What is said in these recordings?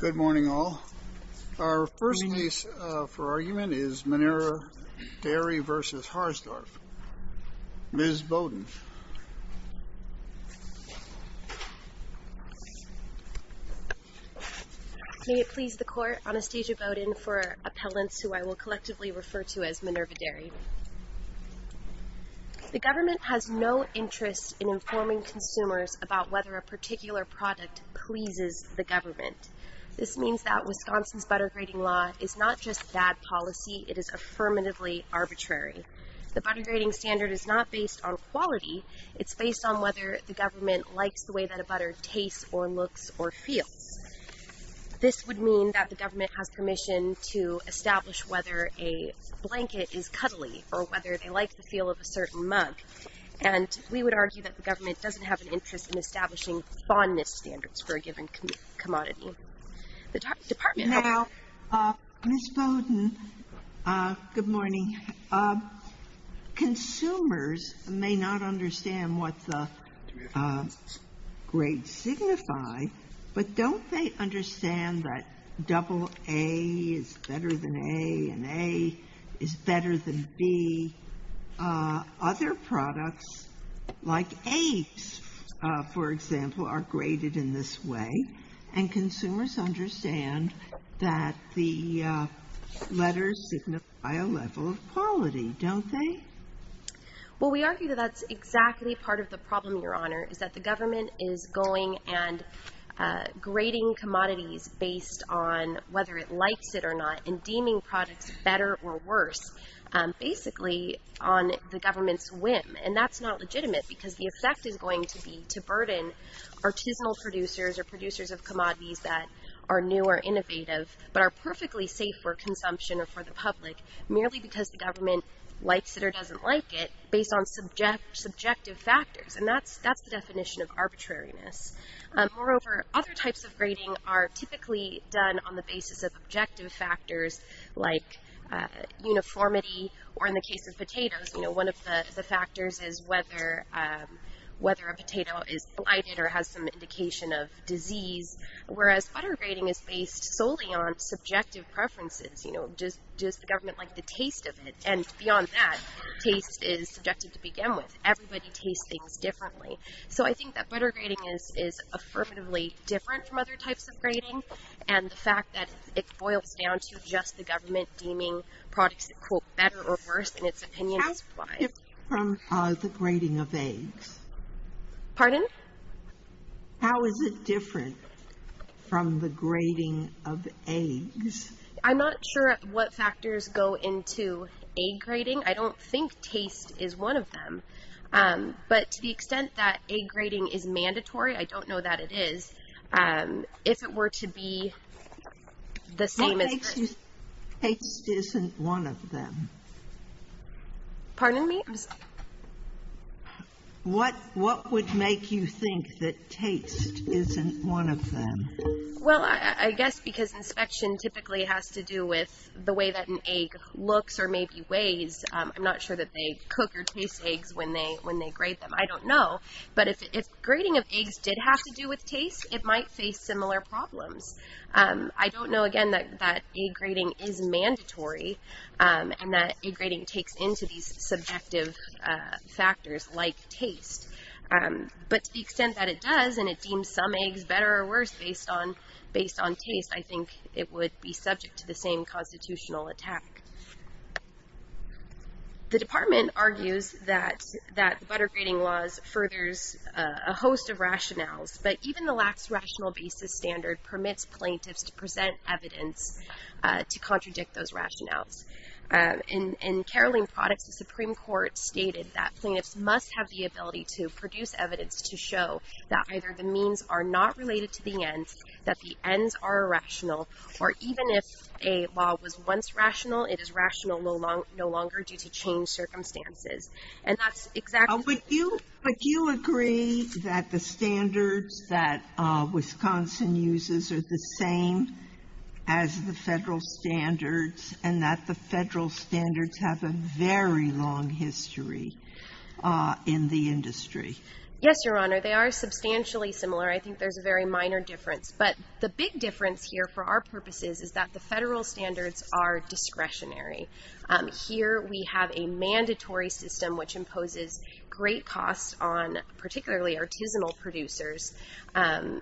Good morning, all. Our first case for argument is Minerva Dairy v. Harsdorf. Ms. Bowden. May it please the Court, Anastasia Bowden for appellants who I will collectively refer to as Minerva Dairy. The government has no interest in informing consumers about whether a particular product pleases the government. This means that Wisconsin's butter grading law is not just bad policy, it is affirmatively arbitrary. The butter grading standard is not based on quality, it's based on whether the government likes the way that a butter tastes or looks or feels. This would mean that the government has permission to establish whether a blanket is cuddly or whether they like the feel of a certain mug. And we would argue that the government doesn't have an interest in establishing fondness standards for a given commodity. The Department of Health ---- Now, Ms. Bowden, good morning. Consumers may not understand what the grades signify, but don't they understand that double A is better than A, and A is better than B? Other products like apes, for example, are graded in this way, and consumers understand that the letters signify a level of quality, don't they? Well, we argue that that's exactly part of the problem, Your Honor, is that the government is going and grading commodities based on whether it likes it or not and deeming products better or worse, basically on the government's whim. And that's not legitimate because the effect is going to be to burden artisanal producers or producers of commodities that are new or innovative but are perfectly safe for consumption or for the public merely because the government likes it or doesn't like it, based on subjective factors. And that's the definition of arbitrariness. Moreover, other types of grading are typically done on the basis of objective factors like uniformity or, in the case of potatoes, one of the factors is whether a potato is blighted or has some indication of disease, whereas butter grading is based solely on subjective preferences. You know, does the government like the taste of it? And beyond that, taste is subjective to begin with. Everybody tastes things differently. So I think that butter grading is affirmatively different from other types of grading and the fact that it boils down to just the government deeming products, quote, better or worse in its opinion is wise. How different from the grading of eggs? Pardon? How is it different from the grading of eggs? I'm not sure what factors go into egg grading. I don't think taste is one of them. But to the extent that egg grading is mandatory, I don't know that it is. If it were to be the same as… What makes you think taste isn't one of them? Pardon me? What would make you think that taste isn't one of them? Well, I guess because inspection typically has to do with the way that an egg looks or maybe weighs. I'm not sure that they cook or taste eggs when they grade them. I don't know. But if grading of eggs did have to do with taste, it might face similar problems. I don't know, again, that egg grading is mandatory and that egg grading takes into these subjective factors like taste. But to the extent that it does and it deems some eggs better or worse based on taste, I think it would be subject to the same constitutional attack. The department argues that the butter grading laws furthers a host of rationales, but even the lax rational basis standard permits plaintiffs to present evidence to contradict those rationales. In Caroline Products, the Supreme Court stated that plaintiffs must have the ability to produce evidence to show that either the means are not related to the ends, that the ends are irrational, or even if a law was once rational, it is rational no longer due to changed circumstances. And that's exactly… Would you agree that the standards that Wisconsin uses are the same as the federal standards and that the federal standards have a very long history in the industry? Yes, Your Honor. They are substantially similar. I think there's a very minor difference. But the big difference here for our purposes is that the federal standards are discretionary. Here we have a mandatory system which imposes great costs on particularly artisanal producers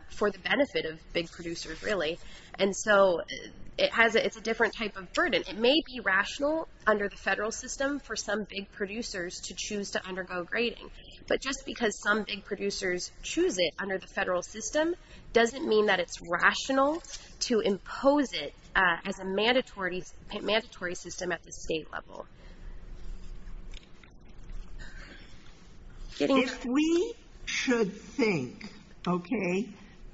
for the benefit of big producers, really. And so it's a different type of burden. It may be rational under the federal system for some big producers to choose to undergo grading, but just because some big producers choose it under the federal system doesn't mean that it's rational to impose it as a mandatory system at the state level. If we should think, okay,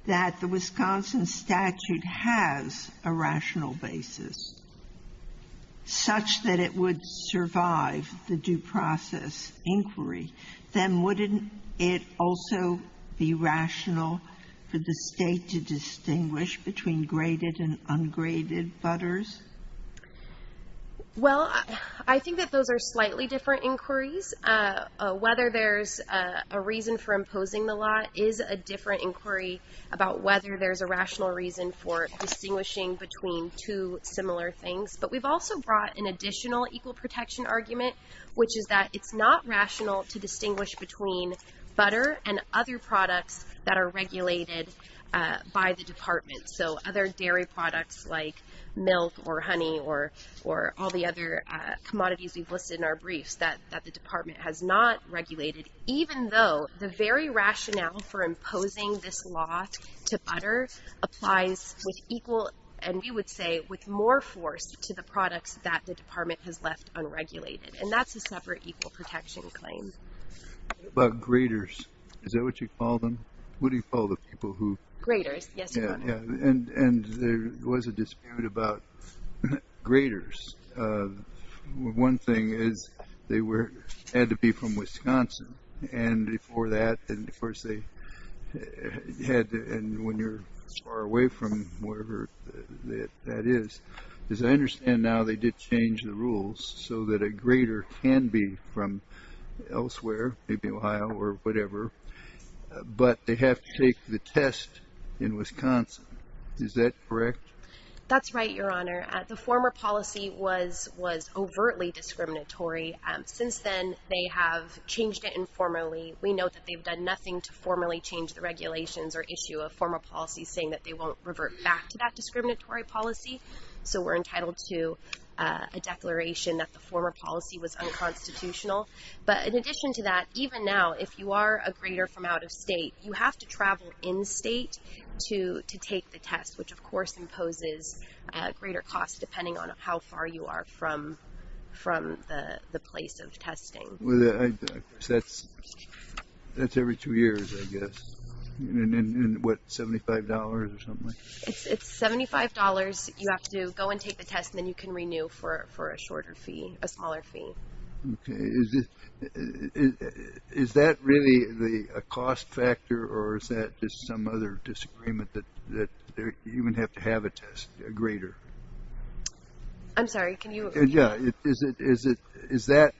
that the Wisconsin statute has a rational basis, such that it would survive the due process inquiry, then wouldn't it also be rational for the state to distinguish between graded and ungraded butters? Well, I think that those are slightly different inquiries. Whether there's a reason for imposing the law is a different inquiry about whether there's a rational reason for distinguishing between two similar things. But we've also brought an additional equal protection argument, which is that it's not rational to distinguish between butter and other products that are regulated by the department. So other dairy products like milk or honey or all the other commodities we've listed in our briefs that the department has not regulated, even though the very rationale for imposing this law to butter applies with equal, and we would say with more force to the products that the department has left unregulated. And that's a separate equal protection claim. About graders, is that what you call them? What do you call the people who... Graders, yes. And there was a dispute about graders. One thing is they had to be from Wisconsin. And before that, of course, they had to... And when you're far away from wherever that is, as I understand now, they did change the rules so that a grader can be from elsewhere, maybe Ohio or whatever, but they have to take the test in Wisconsin. Is that correct? That's right, Your Honor. The former policy was overtly discriminatory. Since then, they have changed it informally. We know that they've done nothing to formally change the regulations or issue a former policy saying that they won't revert back to that discriminatory policy. So we're entitled to a declaration that the former policy was unconstitutional. But in addition to that, even now, if you are a grader from out of state, you have to travel in state to take the test, which, of course, imposes a greater cost depending on how far you are from the place of testing. That's every two years, I guess. And what, $75 or something like that? It's $75. You have to go and take the test, and then you can renew for a shorter fee, a smaller fee. Okay. Is that really a cost factor, or is that just some other disagreement that you would have to have a test, a grader? I'm sorry. Can you repeat that? Yeah. Is that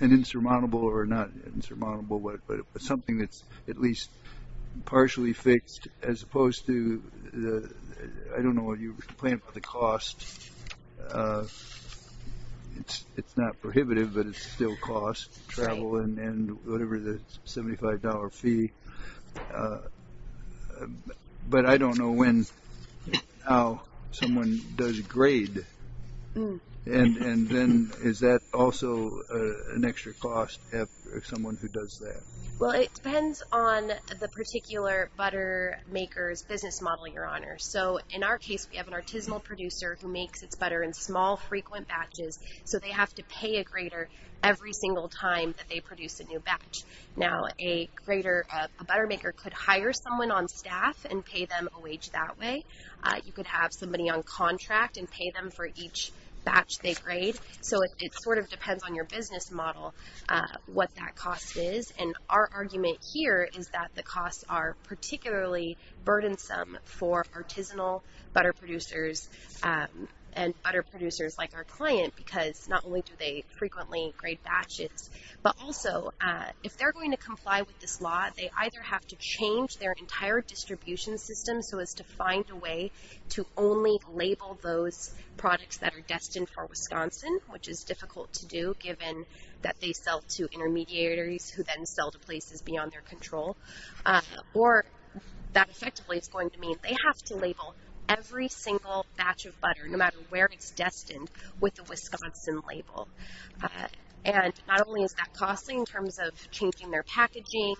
an insurmountable or not insurmountable, but something that's at least partially fixed as opposed to the – I don't know what you're complaining about the cost. It's not prohibitive, but it's still a cost, travel and whatever, the $75 fee. But I don't know when now someone does grade. And then is that also an extra cost for someone who does that? Well, it depends on the particular butter maker's business model, Your Honor. So in our case, we have an artisanal producer who makes its butter in small, frequent batches, so they have to pay a grader every single time that they produce a new batch. Now, a butter maker could hire someone on staff and pay them a wage that way. You could have somebody on contract and pay them for each batch they grade. So it sort of depends on your business model what that cost is. And our argument here is that the costs are particularly burdensome for artisanal butter producers and butter producers like our client because not only do they frequently grade batches, but also if they're going to comply with this law, that they either have to change their entire distribution system so as to find a way to only label those products that are destined for Wisconsin, which is difficult to do given that they sell to intermediaries who then sell to places beyond their control. Or that effectively is going to mean they have to label every single batch of butter, no matter where it's destined, with the Wisconsin label. And not only is that costly in terms of changing their packaging,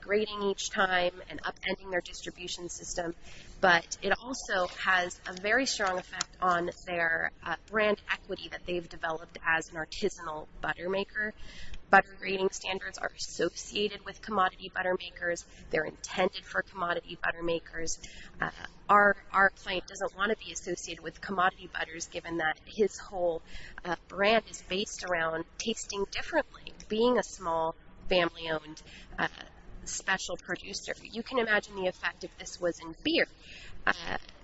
grading each time, and upending their distribution system, but it also has a very strong effect on their brand equity that they've developed as an artisanal butter maker. Butter grading standards are associated with commodity butter makers. They're intended for commodity butter makers. Our client doesn't want to be associated with commodity butters given that his whole brand is based around tasting differently, being a small, family-owned, special producer. You can imagine the effect if this was in beer.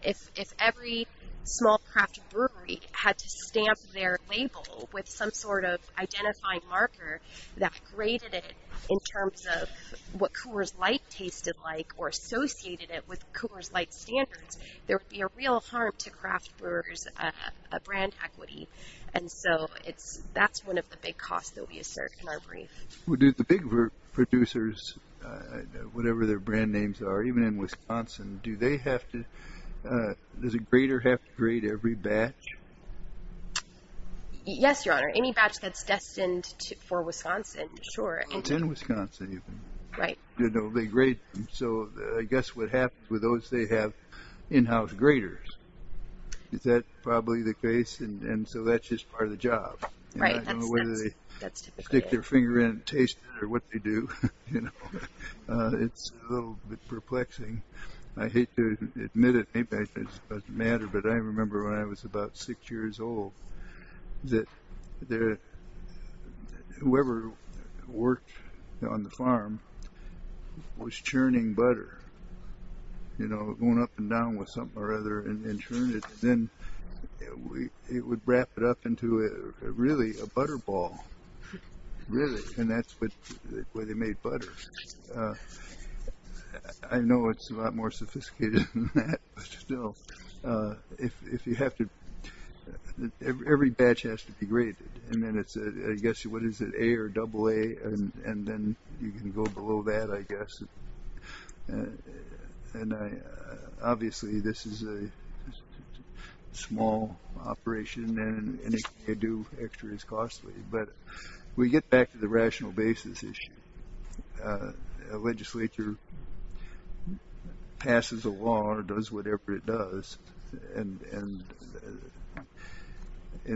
If every small craft brewery had to stamp their label with some sort of identifying marker that graded it in terms of what Coors Light tasted like or associated it with Coors Light standards, there would be a real harm to craft brewers' brand equity. And so that's one of the big costs that we assert in our brief. Well, do the big producers, whatever their brand names are, even in Wisconsin, does a grader have to grade every batch? Yes, Your Honor. Any batch that's destined for Wisconsin, sure. It's in Wisconsin, even. Right. So I guess what happens with those, they have in-house graders. Is that probably the case? And so that's just part of the job. I don't know whether they stick their finger in and taste it or what they do. It's a little bit perplexing. I hate to admit it, maybe it doesn't matter, but I remember when I was about six years old that whoever worked on the farm was churning butter, going up and down with something or other and churning it. Then it would wrap it up into really a butter ball. Really. And that's the way they made butter. I know it's a lot more sophisticated than that, but still, every batch has to be graded. And then it's, I guess, what is it, A or AA? And then you can go below that, I guess. Obviously, this is a small operation, and anything you do extra is costly. But we get back to the rational basis issue. A legislature passes a law or does whatever it does, and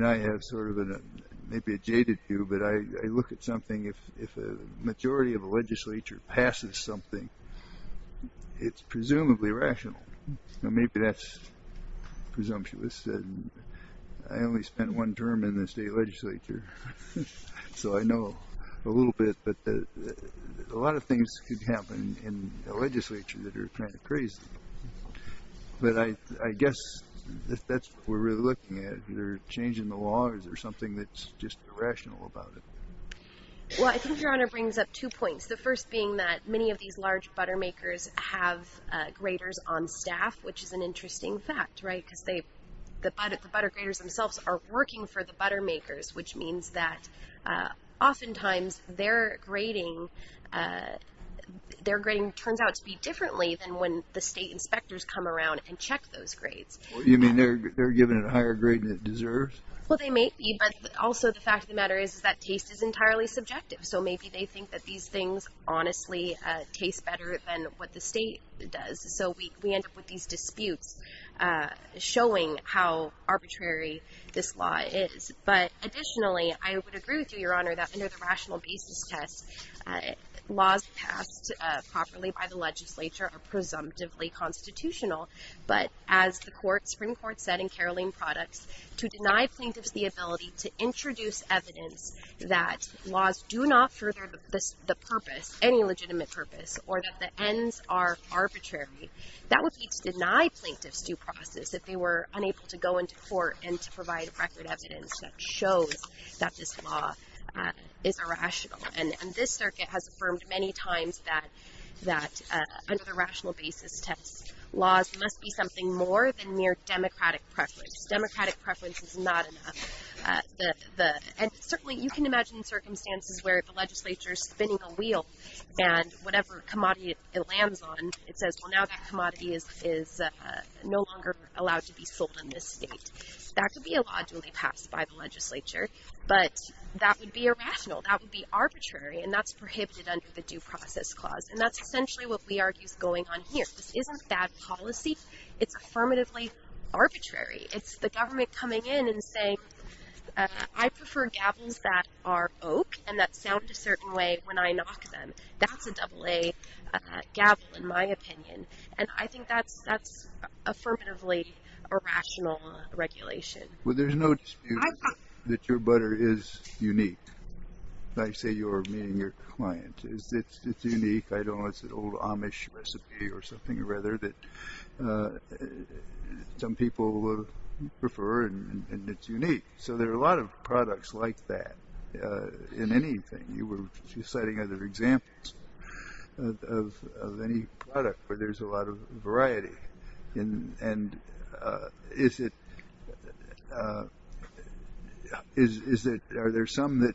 I have sort of maybe a jaded view, but I look at something, if a majority of a legislature passes something, it's presumably rational. Maybe that's presumptuous. I only spent one term in the state legislature, so I know a little bit, but a lot of things could happen in a legislature that are kind of crazy. But I guess that's what we're really looking at, either changing the laws or something that's just irrational about it. Well, I think Your Honor brings up two points, the first being that many of these large butter makers have graders on staff, which is an interesting fact, right, because the butter graders themselves are working for the butter makers, which means that oftentimes their grading turns out to be differently than when the state inspectors come around and check those grades. You mean they're given a higher grade than it deserves? Well, they may be, but also the fact of the matter is that taste is entirely subjective, so maybe they think that these things honestly taste better than what the state does, so we end up with these disputes showing how arbitrary this law is. But additionally, I would agree with you, Your Honor, that under the rational basis test, laws passed properly by the legislature are presumptively constitutional, but as the Supreme Court said in Caroline Products, to deny plaintiffs the ability to introduce evidence that laws do not further the purpose, any legitimate purpose, or that the ends are arbitrary, that would be to deny plaintiffs due process if they were unable to go into court and to provide record evidence that shows that this law is irrational. And this circuit has affirmed many times that under the rational basis test, laws must be something more than mere democratic preference. Democratic preference is not enough. And certainly you can imagine circumstances where the legislature is spinning a wheel and whatever commodity it lands on, it says, well, now that commodity is no longer allowed to be sold in this state. That could be a law duly passed by the legislature, but that would be irrational, that would be arbitrary, and that's prohibited under the due process clause. And that's essentially what we argue is going on here. This isn't bad policy. It's affirmatively arbitrary. It's the government coming in and saying, I prefer gavels that are oak and that sound a certain way when I knock them. That's a double A gavel, in my opinion. And I think that's affirmatively irrational regulation. Well, there's no dispute that your butter is unique. I say your, meaning your client. It's unique. I don't know if it's an old Amish recipe or something, rather, that some people prefer and it's unique. So there are a lot of products like that in anything. You were citing other examples of any product where there's a lot of variety. And is it – are there some that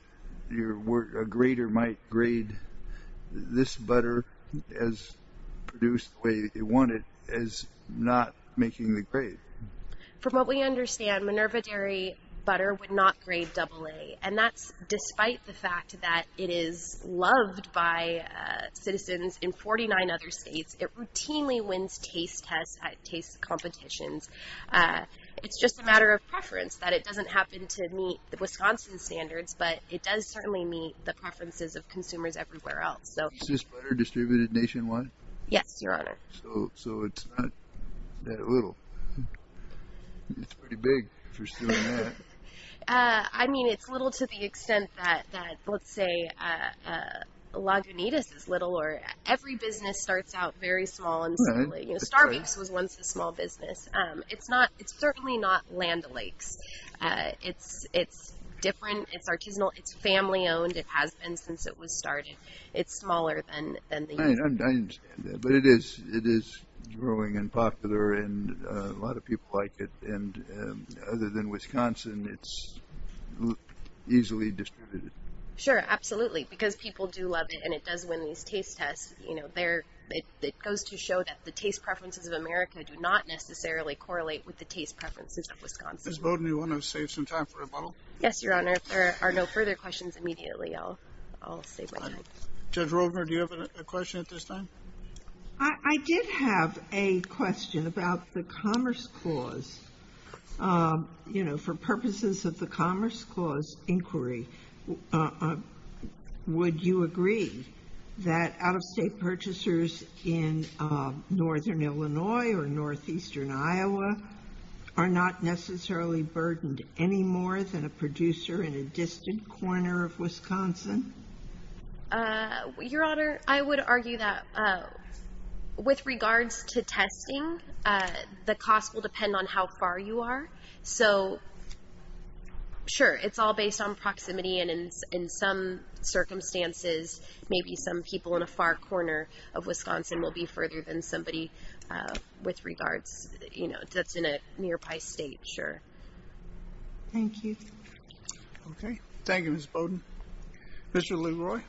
a grader might grade this butter as produced the way they want it as not making the grade? From what we understand, Minerva Dairy butter would not grade double A, and that's despite the fact that it is loved by citizens in 49 other states. It routinely wins taste tests at taste competitions. It's just a matter of preference, that it doesn't happen to meet Wisconsin standards, but it does certainly meet the preferences of consumers everywhere else. Is this butter distributed nationwide? Yes, Your Honor. So it's not that little. It's pretty big if you're stealing that. I mean, it's little to the extent that, let's say, Lagunitas is little, or every business starts out very small. Starbakes was once a small business. It's certainly not Land O'Lakes. It's different. It's artisanal. It's family-owned. It has been since it was started. It's smaller than the U.S. But it is growing and popular, and a lot of people like it. And other than Wisconsin, it's easily distributed. Sure, absolutely. Because people do love it, and it does win these taste tests. It goes to show that the taste preferences of America do not necessarily correlate with the taste preferences of Wisconsin. Ms. Bowden, do you want to save some time for a bottle? Yes, Your Honor. If there are no further questions, immediately I'll save my time. Judge Rovner, do you have a question at this time? I did have a question about the Commerce Clause. For purposes of the Commerce Clause inquiry, would you agree that out-of-state purchasers in northern Illinois or northeastern Iowa are not necessarily burdened any more than a producer in a distant corner of Wisconsin? Your Honor, I would argue that with regards to testing, the cost will depend on how far you are. So, sure, it's all based on proximity. And in some circumstances, maybe some people in a far corner of Wisconsin will be further than somebody with regards, you know, that's in a nearby state, sure. Thank you. Okay. Thank you, Ms. Bowden. Mr. LeRoy.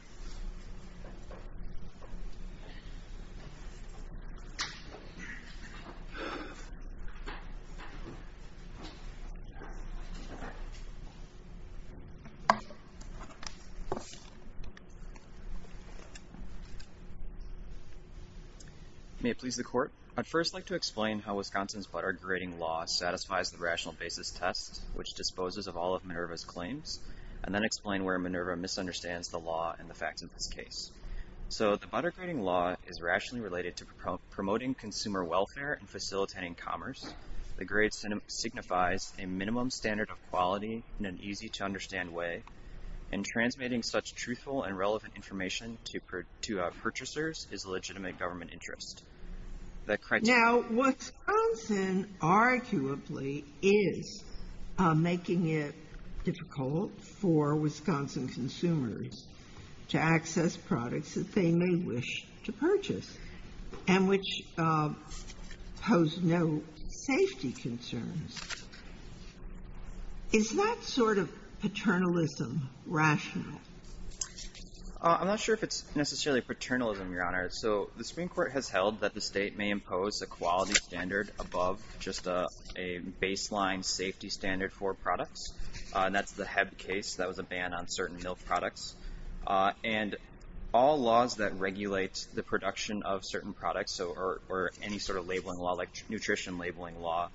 May it please the Court, I'd first like to explain how Wisconsin's Butter Grating Law satisfies the Rational Basis Test, which disposes of all of Minerva's claims, and then explain where Minerva misunderstands the law and the facts of this case. So, the Butter Grating Law is rationally related to promoting consumer welfare and facilitating commerce. The grade signifies a minimum standard of quality in an easy-to-understand way, and transmitting such truthful and relevant information to our purchasers is a legitimate government interest. Now, Wisconsin arguably is making it difficult for Wisconsin consumers to access products that they may wish to purchase, and which pose no safety concerns. Is that sort of paternalism rational? I'm not sure if it's necessarily paternalism, Your Honor. So, the Supreme Court has held that the state may impose a quality standard above just a baseline safety standard for products, and that's the Hebb case that was a ban on certain milk products. And all laws that regulate the production of certain products, or any sort of labeling law, like nutrition labeling law,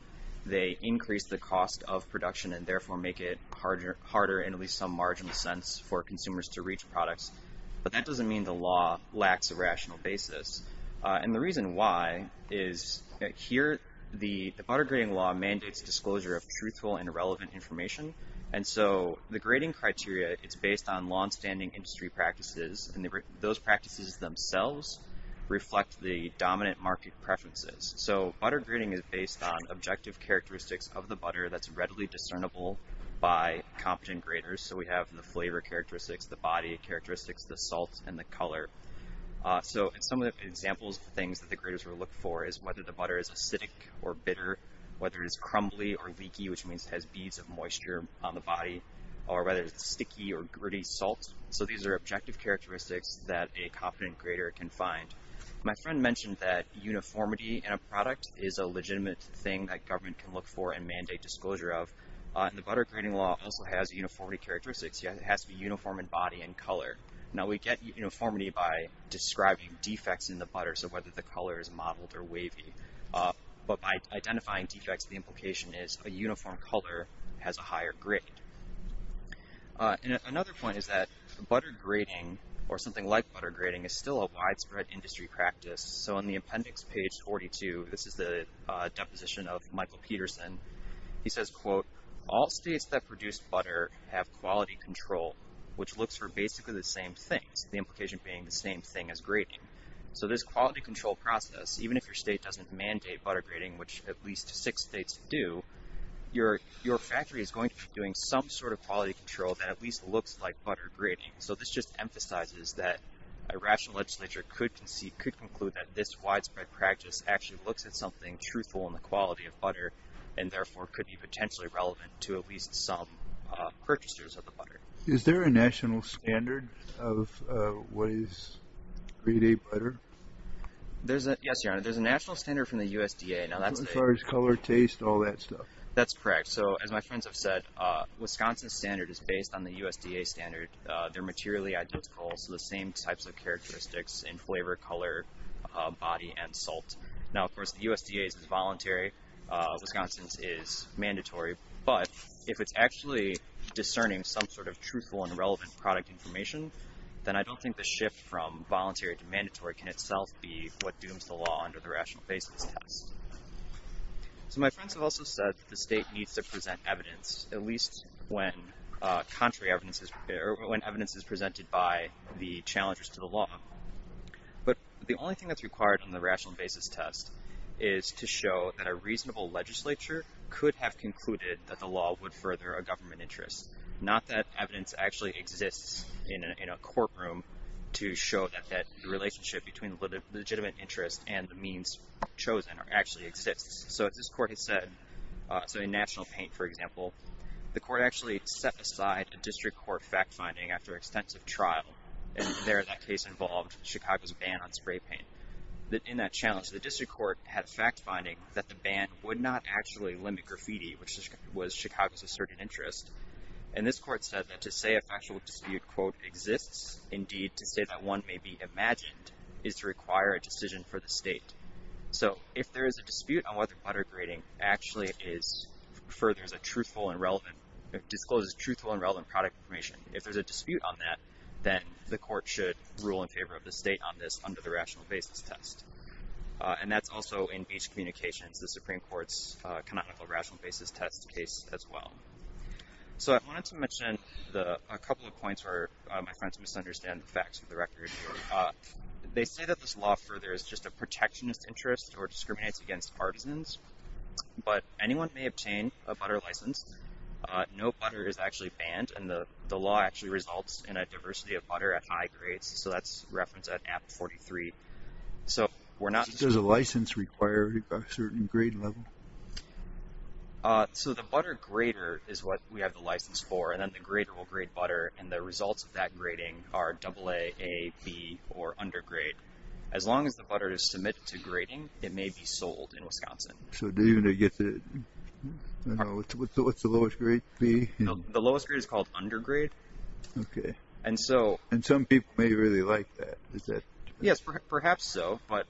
they increase the cost of production and therefore make it harder, in at least some marginal sense, for consumers to reach products. But that doesn't mean the law lacks a rational basis. And the reason why is here the butter grading law mandates disclosure of truthful and relevant information, and so the grading criteria is based on longstanding industry practices, and those practices themselves reflect the dominant market preferences. So, butter grading is based on objective characteristics of the butter that's readily discernible by competent graders. So, we have the flavor characteristics, the body characteristics, the salt, and the color. So, some of the examples of things that the graders will look for is whether the butter is acidic or bitter, whether it's crumbly or leaky, which means it has beads of moisture on the body, or whether it's sticky or gritty salt. So, these are objective characteristics that a competent grader can find. My friend mentioned that uniformity in a product is a legitimate thing that government can look for and mandate disclosure of. The butter grading law also has uniformity characteristics. It has to be uniform in body and color. Now, we get uniformity by describing defects in the butter, so whether the color is mottled or wavy. But by identifying defects, the implication is a uniform color has a higher grade. Another point is that butter grading, or something like butter grading, is still a widespread industry practice. So, in the appendix, page 42, this is the deposition of Michael Peterson. He says, quote, All states that produce butter have quality control, which looks for basically the same things, the implication being the same thing as grading. So, this quality control process, even if your state doesn't mandate butter grading, which at least six states do, your factory is going to be doing some sort of quality control that at least looks like butter grading. So, this just emphasizes that a rational legislature could conclude that this widespread practice actually looks at something truthful in the quality of butter and, therefore, could be potentially relevant to at least some purchasers of the butter. Is there a national standard of what is grade A butter? Yes, Your Honor. There's a national standard from the USDA. As far as color, taste, all that stuff. That's correct. So, as my friends have said, Wisconsin's standard is based on the USDA standard. They're materially identical, so the same types of characteristics in flavor, color, body, and salt. Now, of course, the USDA's is voluntary. Wisconsin's is mandatory. But if it's actually discerning some sort of truthful and relevant product information, then I don't think the shift from voluntary to mandatory can itself be what dooms the law under the rational basis test. So, my friends have also said that the state needs to present evidence, at least when contrary evidence is, or when evidence is presented by the challengers to the law. But the only thing that's required on the rational basis test is to show that a reasonable legislature could have concluded that the law would further a government interest, not that evidence actually exists in a courtroom to show that that relationship between legitimate interest and the means chosen actually exists. So, as this court has said, so in National Paint, for example, the court actually set aside a district court fact finding after extensive trial, and there that case involved Chicago's ban on spray paint. In that challenge, the district court had a fact finding that the ban would not actually limit graffiti, which was Chicago's asserted interest. And this court said that to say a factual dispute, quote, exists, indeed to say that one may be imagined, is to require a decision for the state. So, if there is a dispute on whether butter grating actually is, furthers a truthful and relevant, discloses truthful and relevant product information, if there's a dispute on that, then the court should rule in favor of the state on this under the rational basis test. And that's also in Beach Communications, the Supreme Court's canonical rational basis test case as well. So, I wanted to mention a couple of points where my friends misunderstand the facts of the record. They say that this law furthers just a protectionist interest or discriminates against partisans, but anyone may obtain a butter license. No butter is actually banned, and the law actually results in a diversity of butter at high grades. So, that's referenced at AB 43. So, we're not... Does a license require a certain grade level? So, the butter grater is what we have the license for, and then the grater will grade butter, and the results of that grating are AA, A, B, or under grade. it may be sold in Wisconsin. So, do you know what the lowest grade would be? The lowest grade is called under grade. Okay. And so... And some people may really like that. Yes, perhaps so, but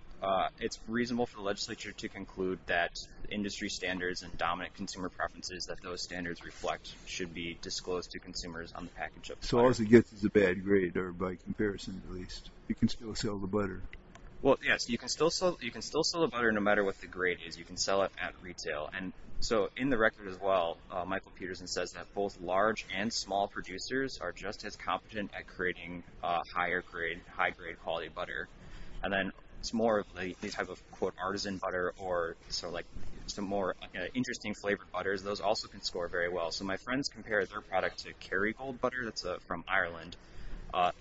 it's reasonable for the legislature to conclude that industry standards and dominant consumer preferences that those standards reflect should be disclosed to consumers on the package of butter. So, all it gets is a bad grade, or by comparison at least. You can still sell the butter. Well, yes. You can still sell the butter no matter what the grade is. You can sell it at retail. And so, in the record as well, Michael Peterson says that both large and small producers are just as competent at creating higher grade, high grade quality butter. And then it's more of the type of, quote, artisan butter or sort of like some more interesting flavored butters. Those also can score very well. So, my friends compare their product to Kerrygold butter. That's from Ireland.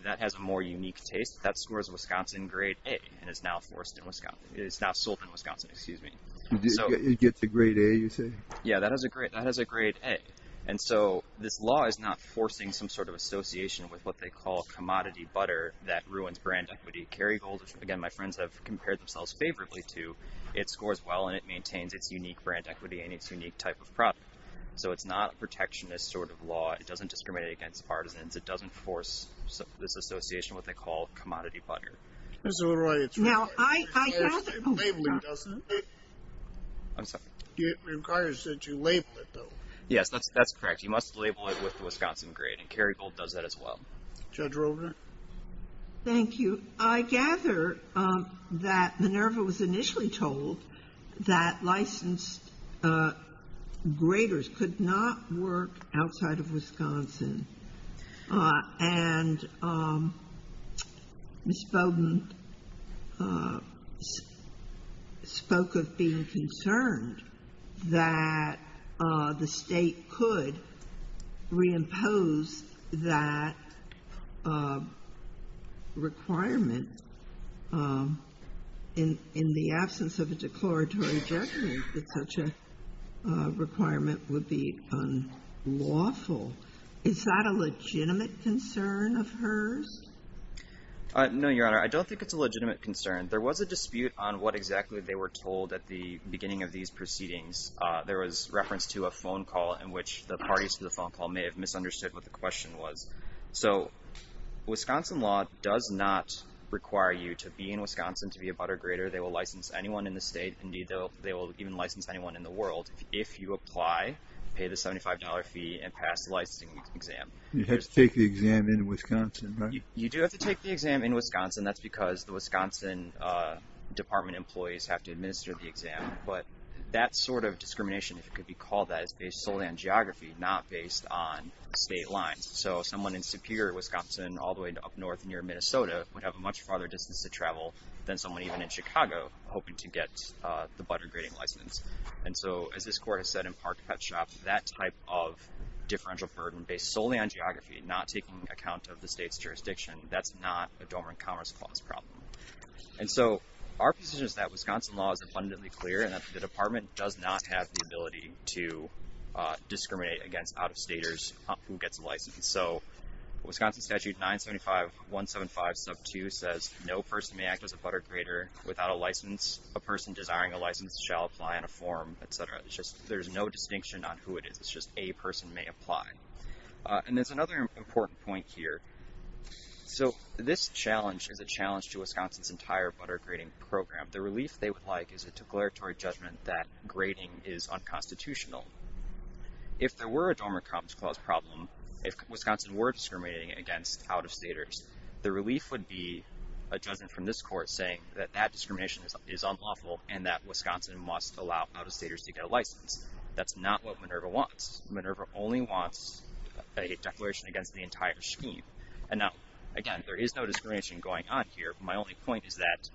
That has a more unique taste. That scores Wisconsin grade A and is now forced in Wisconsin... is now sold in Wisconsin, excuse me. It gets a grade A, you say? Yeah, that has a grade A. And so, this law is not forcing some sort of association with what they call commodity butter that ruins brand equity. Kerrygold, again, my friends have compared themselves favorably to. It scores well, and it maintains its unique brand equity and its unique type of product. So, it's not a protectionist sort of law. It doesn't discriminate against partisans. It doesn't force this association, what they call commodity butter. That's all right. It's labeling, doesn't it? I'm sorry? It requires that you label it, though. Yes, that's correct. You must label it with the Wisconsin grade, and Kerrygold does that as well. Judge Rover? Thank you. I gather that Minerva was initially told that licensed graders could not work outside of Wisconsin. And Ms. Bowdoin spoke of being concerned that the State could reimpose that requirement in the absence of a declaratory judgment that such a requirement would be unlawful. Is that a legitimate concern of hers? No, Your Honor. I don't think it's a legitimate concern. There was a dispute on what exactly they were told at the beginning of these proceedings. There was reference to a phone call in which the parties to the phone call may have misunderstood what the question was. So, Wisconsin law does not require you to be in Wisconsin to be a butter grader. They will license anyone in the State. Indeed, they will even license anyone in the world. If you apply, pay the $75 fee, and pass the licensing exam. You have to take the exam in Wisconsin, right? You do have to take the exam in Wisconsin. That's because the Wisconsin Department employees have to administer the exam. But that sort of discrimination, if it could be called that, is based solely on geography, not based on State lines. So, someone in Superior, Wisconsin, all the way up north near Minnesota would have a much farther distance to travel than someone even in Chicago hoping to get the butter grading license. And so, as this Court has said in Park Pet Shop, that type of differential burden based solely on geography, not taking account of the State's jurisdiction, that's not a Dormant Commerce Clause problem. And so, our position is that Wisconsin law is abundantly clear and that the Department does not have the ability to discriminate against out-of-staters who gets a license. So, Wisconsin Statute 975.175.2 says, No person may act as a butter grader without a license. A person desiring a license shall apply on a form, etc. There's no distinction on who it is. It's just a person may apply. And there's another important point here. So, this challenge is a challenge to Wisconsin's entire butter grading program. The relief they would like is a declaratory judgment that grading is unconstitutional. If there were a Dormant Commerce Clause problem, if Wisconsin were discriminating against out-of-staters, the relief would be a judgment from this Court saying that that discrimination is unlawful and that Wisconsin must allow out-of-staters to get a license. That's not what Minerva wants. Minerva only wants a declaration against the entire scheme. And now, again, there is no discrimination going on here. My only point is that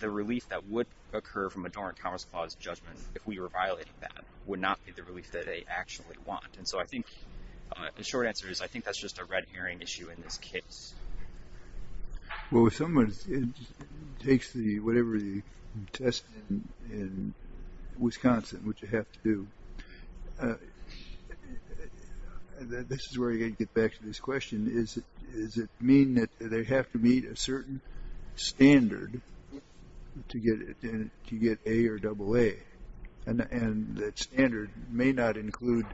the relief that would occur from a Dormant Commerce Clause judgment if we were violating that would not be the relief that they actually want. And so, I think the short answer is I think that's just a red herring issue in this case. Well, if someone takes whatever the test in Wisconsin, which they have to do, this is where you get back to this question. Does it mean that they have to meet a certain standard to get A or AA? And that standard may not include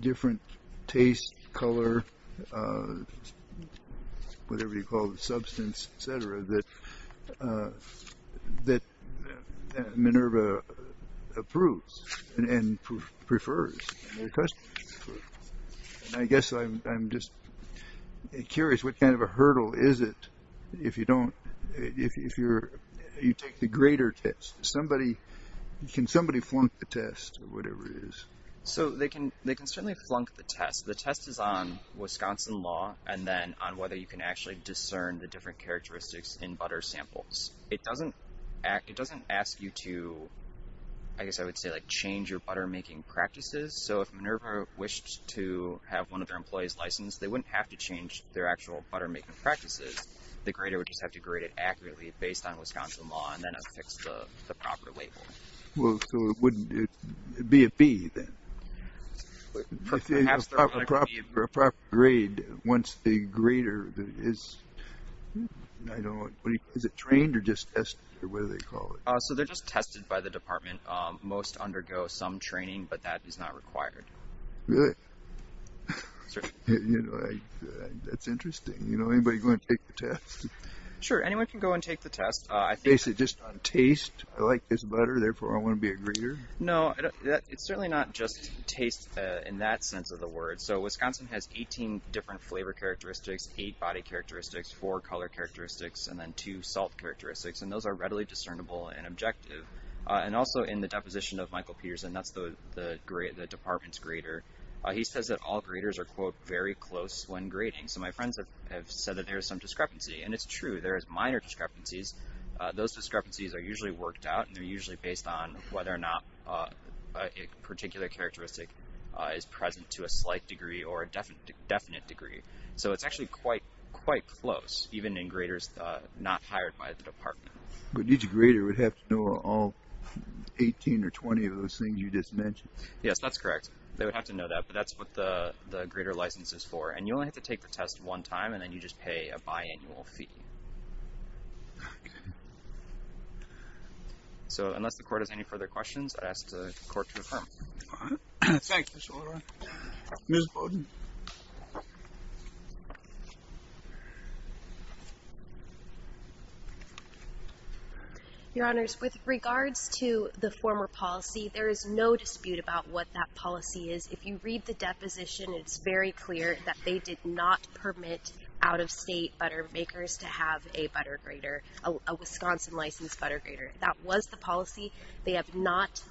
different taste, color, whatever you call the substance, et cetera, that Minerva approves and prefers? I guess I'm just curious what kind of a hurdle is it if you take the greater test? Can somebody flunk the test or whatever it is? So, they can certainly flunk the test. The test is on Wisconsin law and then on whether you can actually discern the different characteristics in butter samples. It doesn't ask you to, I guess I would say, change your butter-making practices. So, if Minerva wished to have one of their employees licensed, they wouldn't have to change their actual butter-making practices. The grader would just have to grade it accurately based on Wisconsin law and then affix the proper label. Well, so it wouldn't be a B then? A proper grade once a grader is, I don't know, is it trained or just tested or whatever they call it? So, they're just tested by the department. Most undergo some training, but that is not required. Really? Certainly. That's interesting. Anybody going to take the test? Sure, anyone can go and take the test. Basically just on taste? I like this butter, therefore I want to be a grader? No, it's certainly not just taste in that sense of the word. So, Wisconsin has 18 different flavor characteristics, 8 body characteristics, 4 color characteristics, and then 2 salt characteristics, and those are readily discernible and objective. And also, in the deposition of Michael Peterson, that's the department's grader, he says that all graders are, quote, very close when grading. So, my friends have said that there is some discrepancy, and it's true. There is minor discrepancies. Those discrepancies are usually worked out and they're usually based on whether or not a particular characteristic is present to a slight degree or a definite degree. So, it's actually quite close, even in graders not hired by the department. But each grader would have to know all 18 or 20 of those things you just mentioned? Yes, that's correct. They would have to know that, but that's what the grader license is for, and you only have to take the test one time, and then you just pay a biannual fee. Okay. So, unless the court has any further questions, I'd ask the court to affirm. All right. Thank you, Mr. Oliver. Ms. Bowden? Your Honors, with regards to the former policy, there is no dispute about what that policy is. If you read the deposition, it's very clear that they did not permit out-of-state butter makers to have a butter grader, a Wisconsin-licensed butter grader. That was the policy. They have not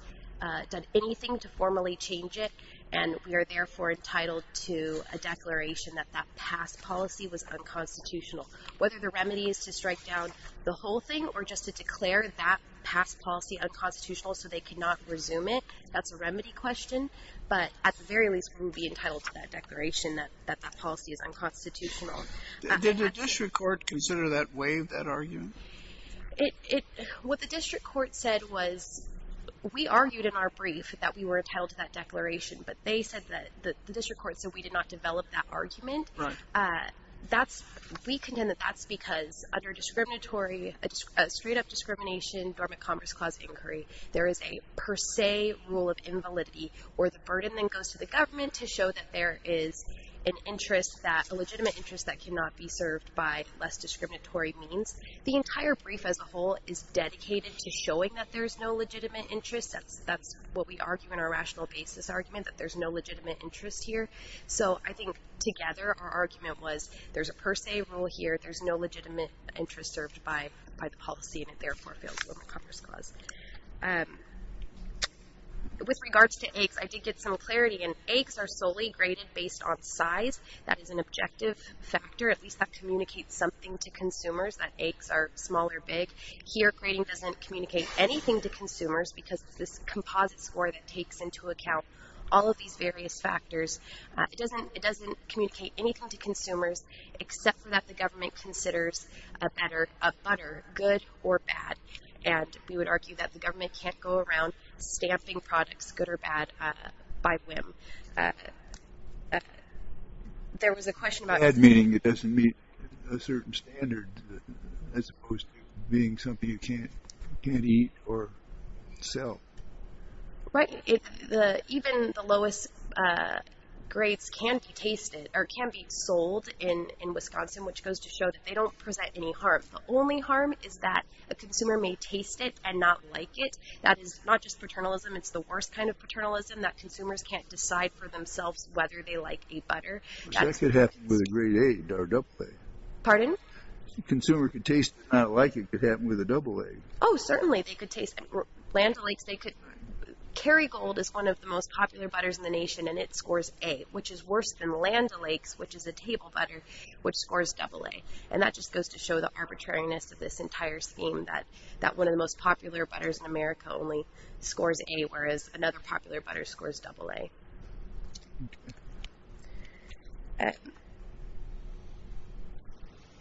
done anything to formally change it, and we are therefore entitled to a declaration that that past policy was unconstitutional. Whether the remedy is to strike down the whole thing or just to declare that past policy unconstitutional so they cannot resume it, that's a remedy question. But at the very least, we would be entitled to that declaration that that policy is unconstitutional. Did the district court consider that way, that argument? What the district court said was we argued in our brief that we were entitled to that declaration, but they said that the district court said we did not develop that argument. Right. We contend that that's because under a discriminatory, a straight-up discrimination dormant commerce clause inquiry, there is a per se rule of invalidity where the burden then goes to the government to show that there is an interest, a legitimate interest that cannot be served by less discriminatory means. The entire brief as a whole is dedicated to showing that there is no legitimate interest. That's what we argue in our rational basis argument, that there's no legitimate interest here. So I think together our argument was there's a per se rule here. There's no legitimate interest served by the policy, and it therefore fails the dormant commerce clause. With regards to AICs, I did get some clarity, and AICs are solely graded based on size. That is an objective factor. At least that communicates something to consumers that AICs are small or big. Here grading doesn't communicate anything to consumers because it's this composite score that takes into account all of these various factors. It doesn't communicate anything to consumers except that the government considers a better, a better good or bad, and we would argue that the government can't go around stamping products good or bad by whim. There was a question about... Bad meaning it doesn't meet a certain standard as opposed to being something you can't eat or sell. Right. Even the lowest grades can be tasted or can be sold in Wisconsin, which goes to show that they don't present any harm. The only harm is that a consumer may taste it and not like it. That is not just paternalism. It's the worst kind of paternalism that consumers can't decide for themselves whether they like a butter. That could happen with a grade A or double A. Pardon? Consumer could taste it and not like it. It could happen with a double A. Oh, certainly. They could taste it. Land O'Lakes, they could... Kerrygold is one of the most popular butters in the nation, and it scores A, which is worse than Land O'Lakes, which is a table butter, which scores double A. That just goes to show the arbitrariness of this entire scheme, that one of the most popular butters in America only scores A, whereas another popular butter scores double A.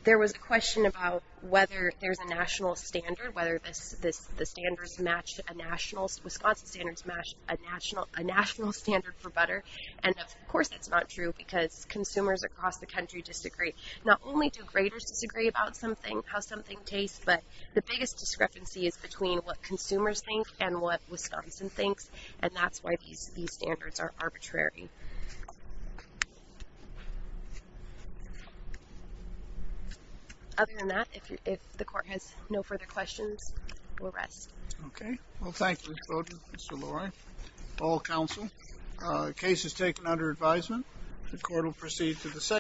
There was a question about whether there's a national standard, whether Wisconsin standards match a national standard for butter. Of course, that's not true because consumers across the country disagree. Not only do graders disagree about something, how something tastes, but the biggest discrepancy is between what consumers think and what Wisconsin thinks, and that's why these standards are arbitrary. Other than that, if the court has no further questions, we'll rest. Okay. Well, thank you, Ms. Bowden, Mr. Lurie, all counsel. The case is taken under advisement. The court will proceed to the second.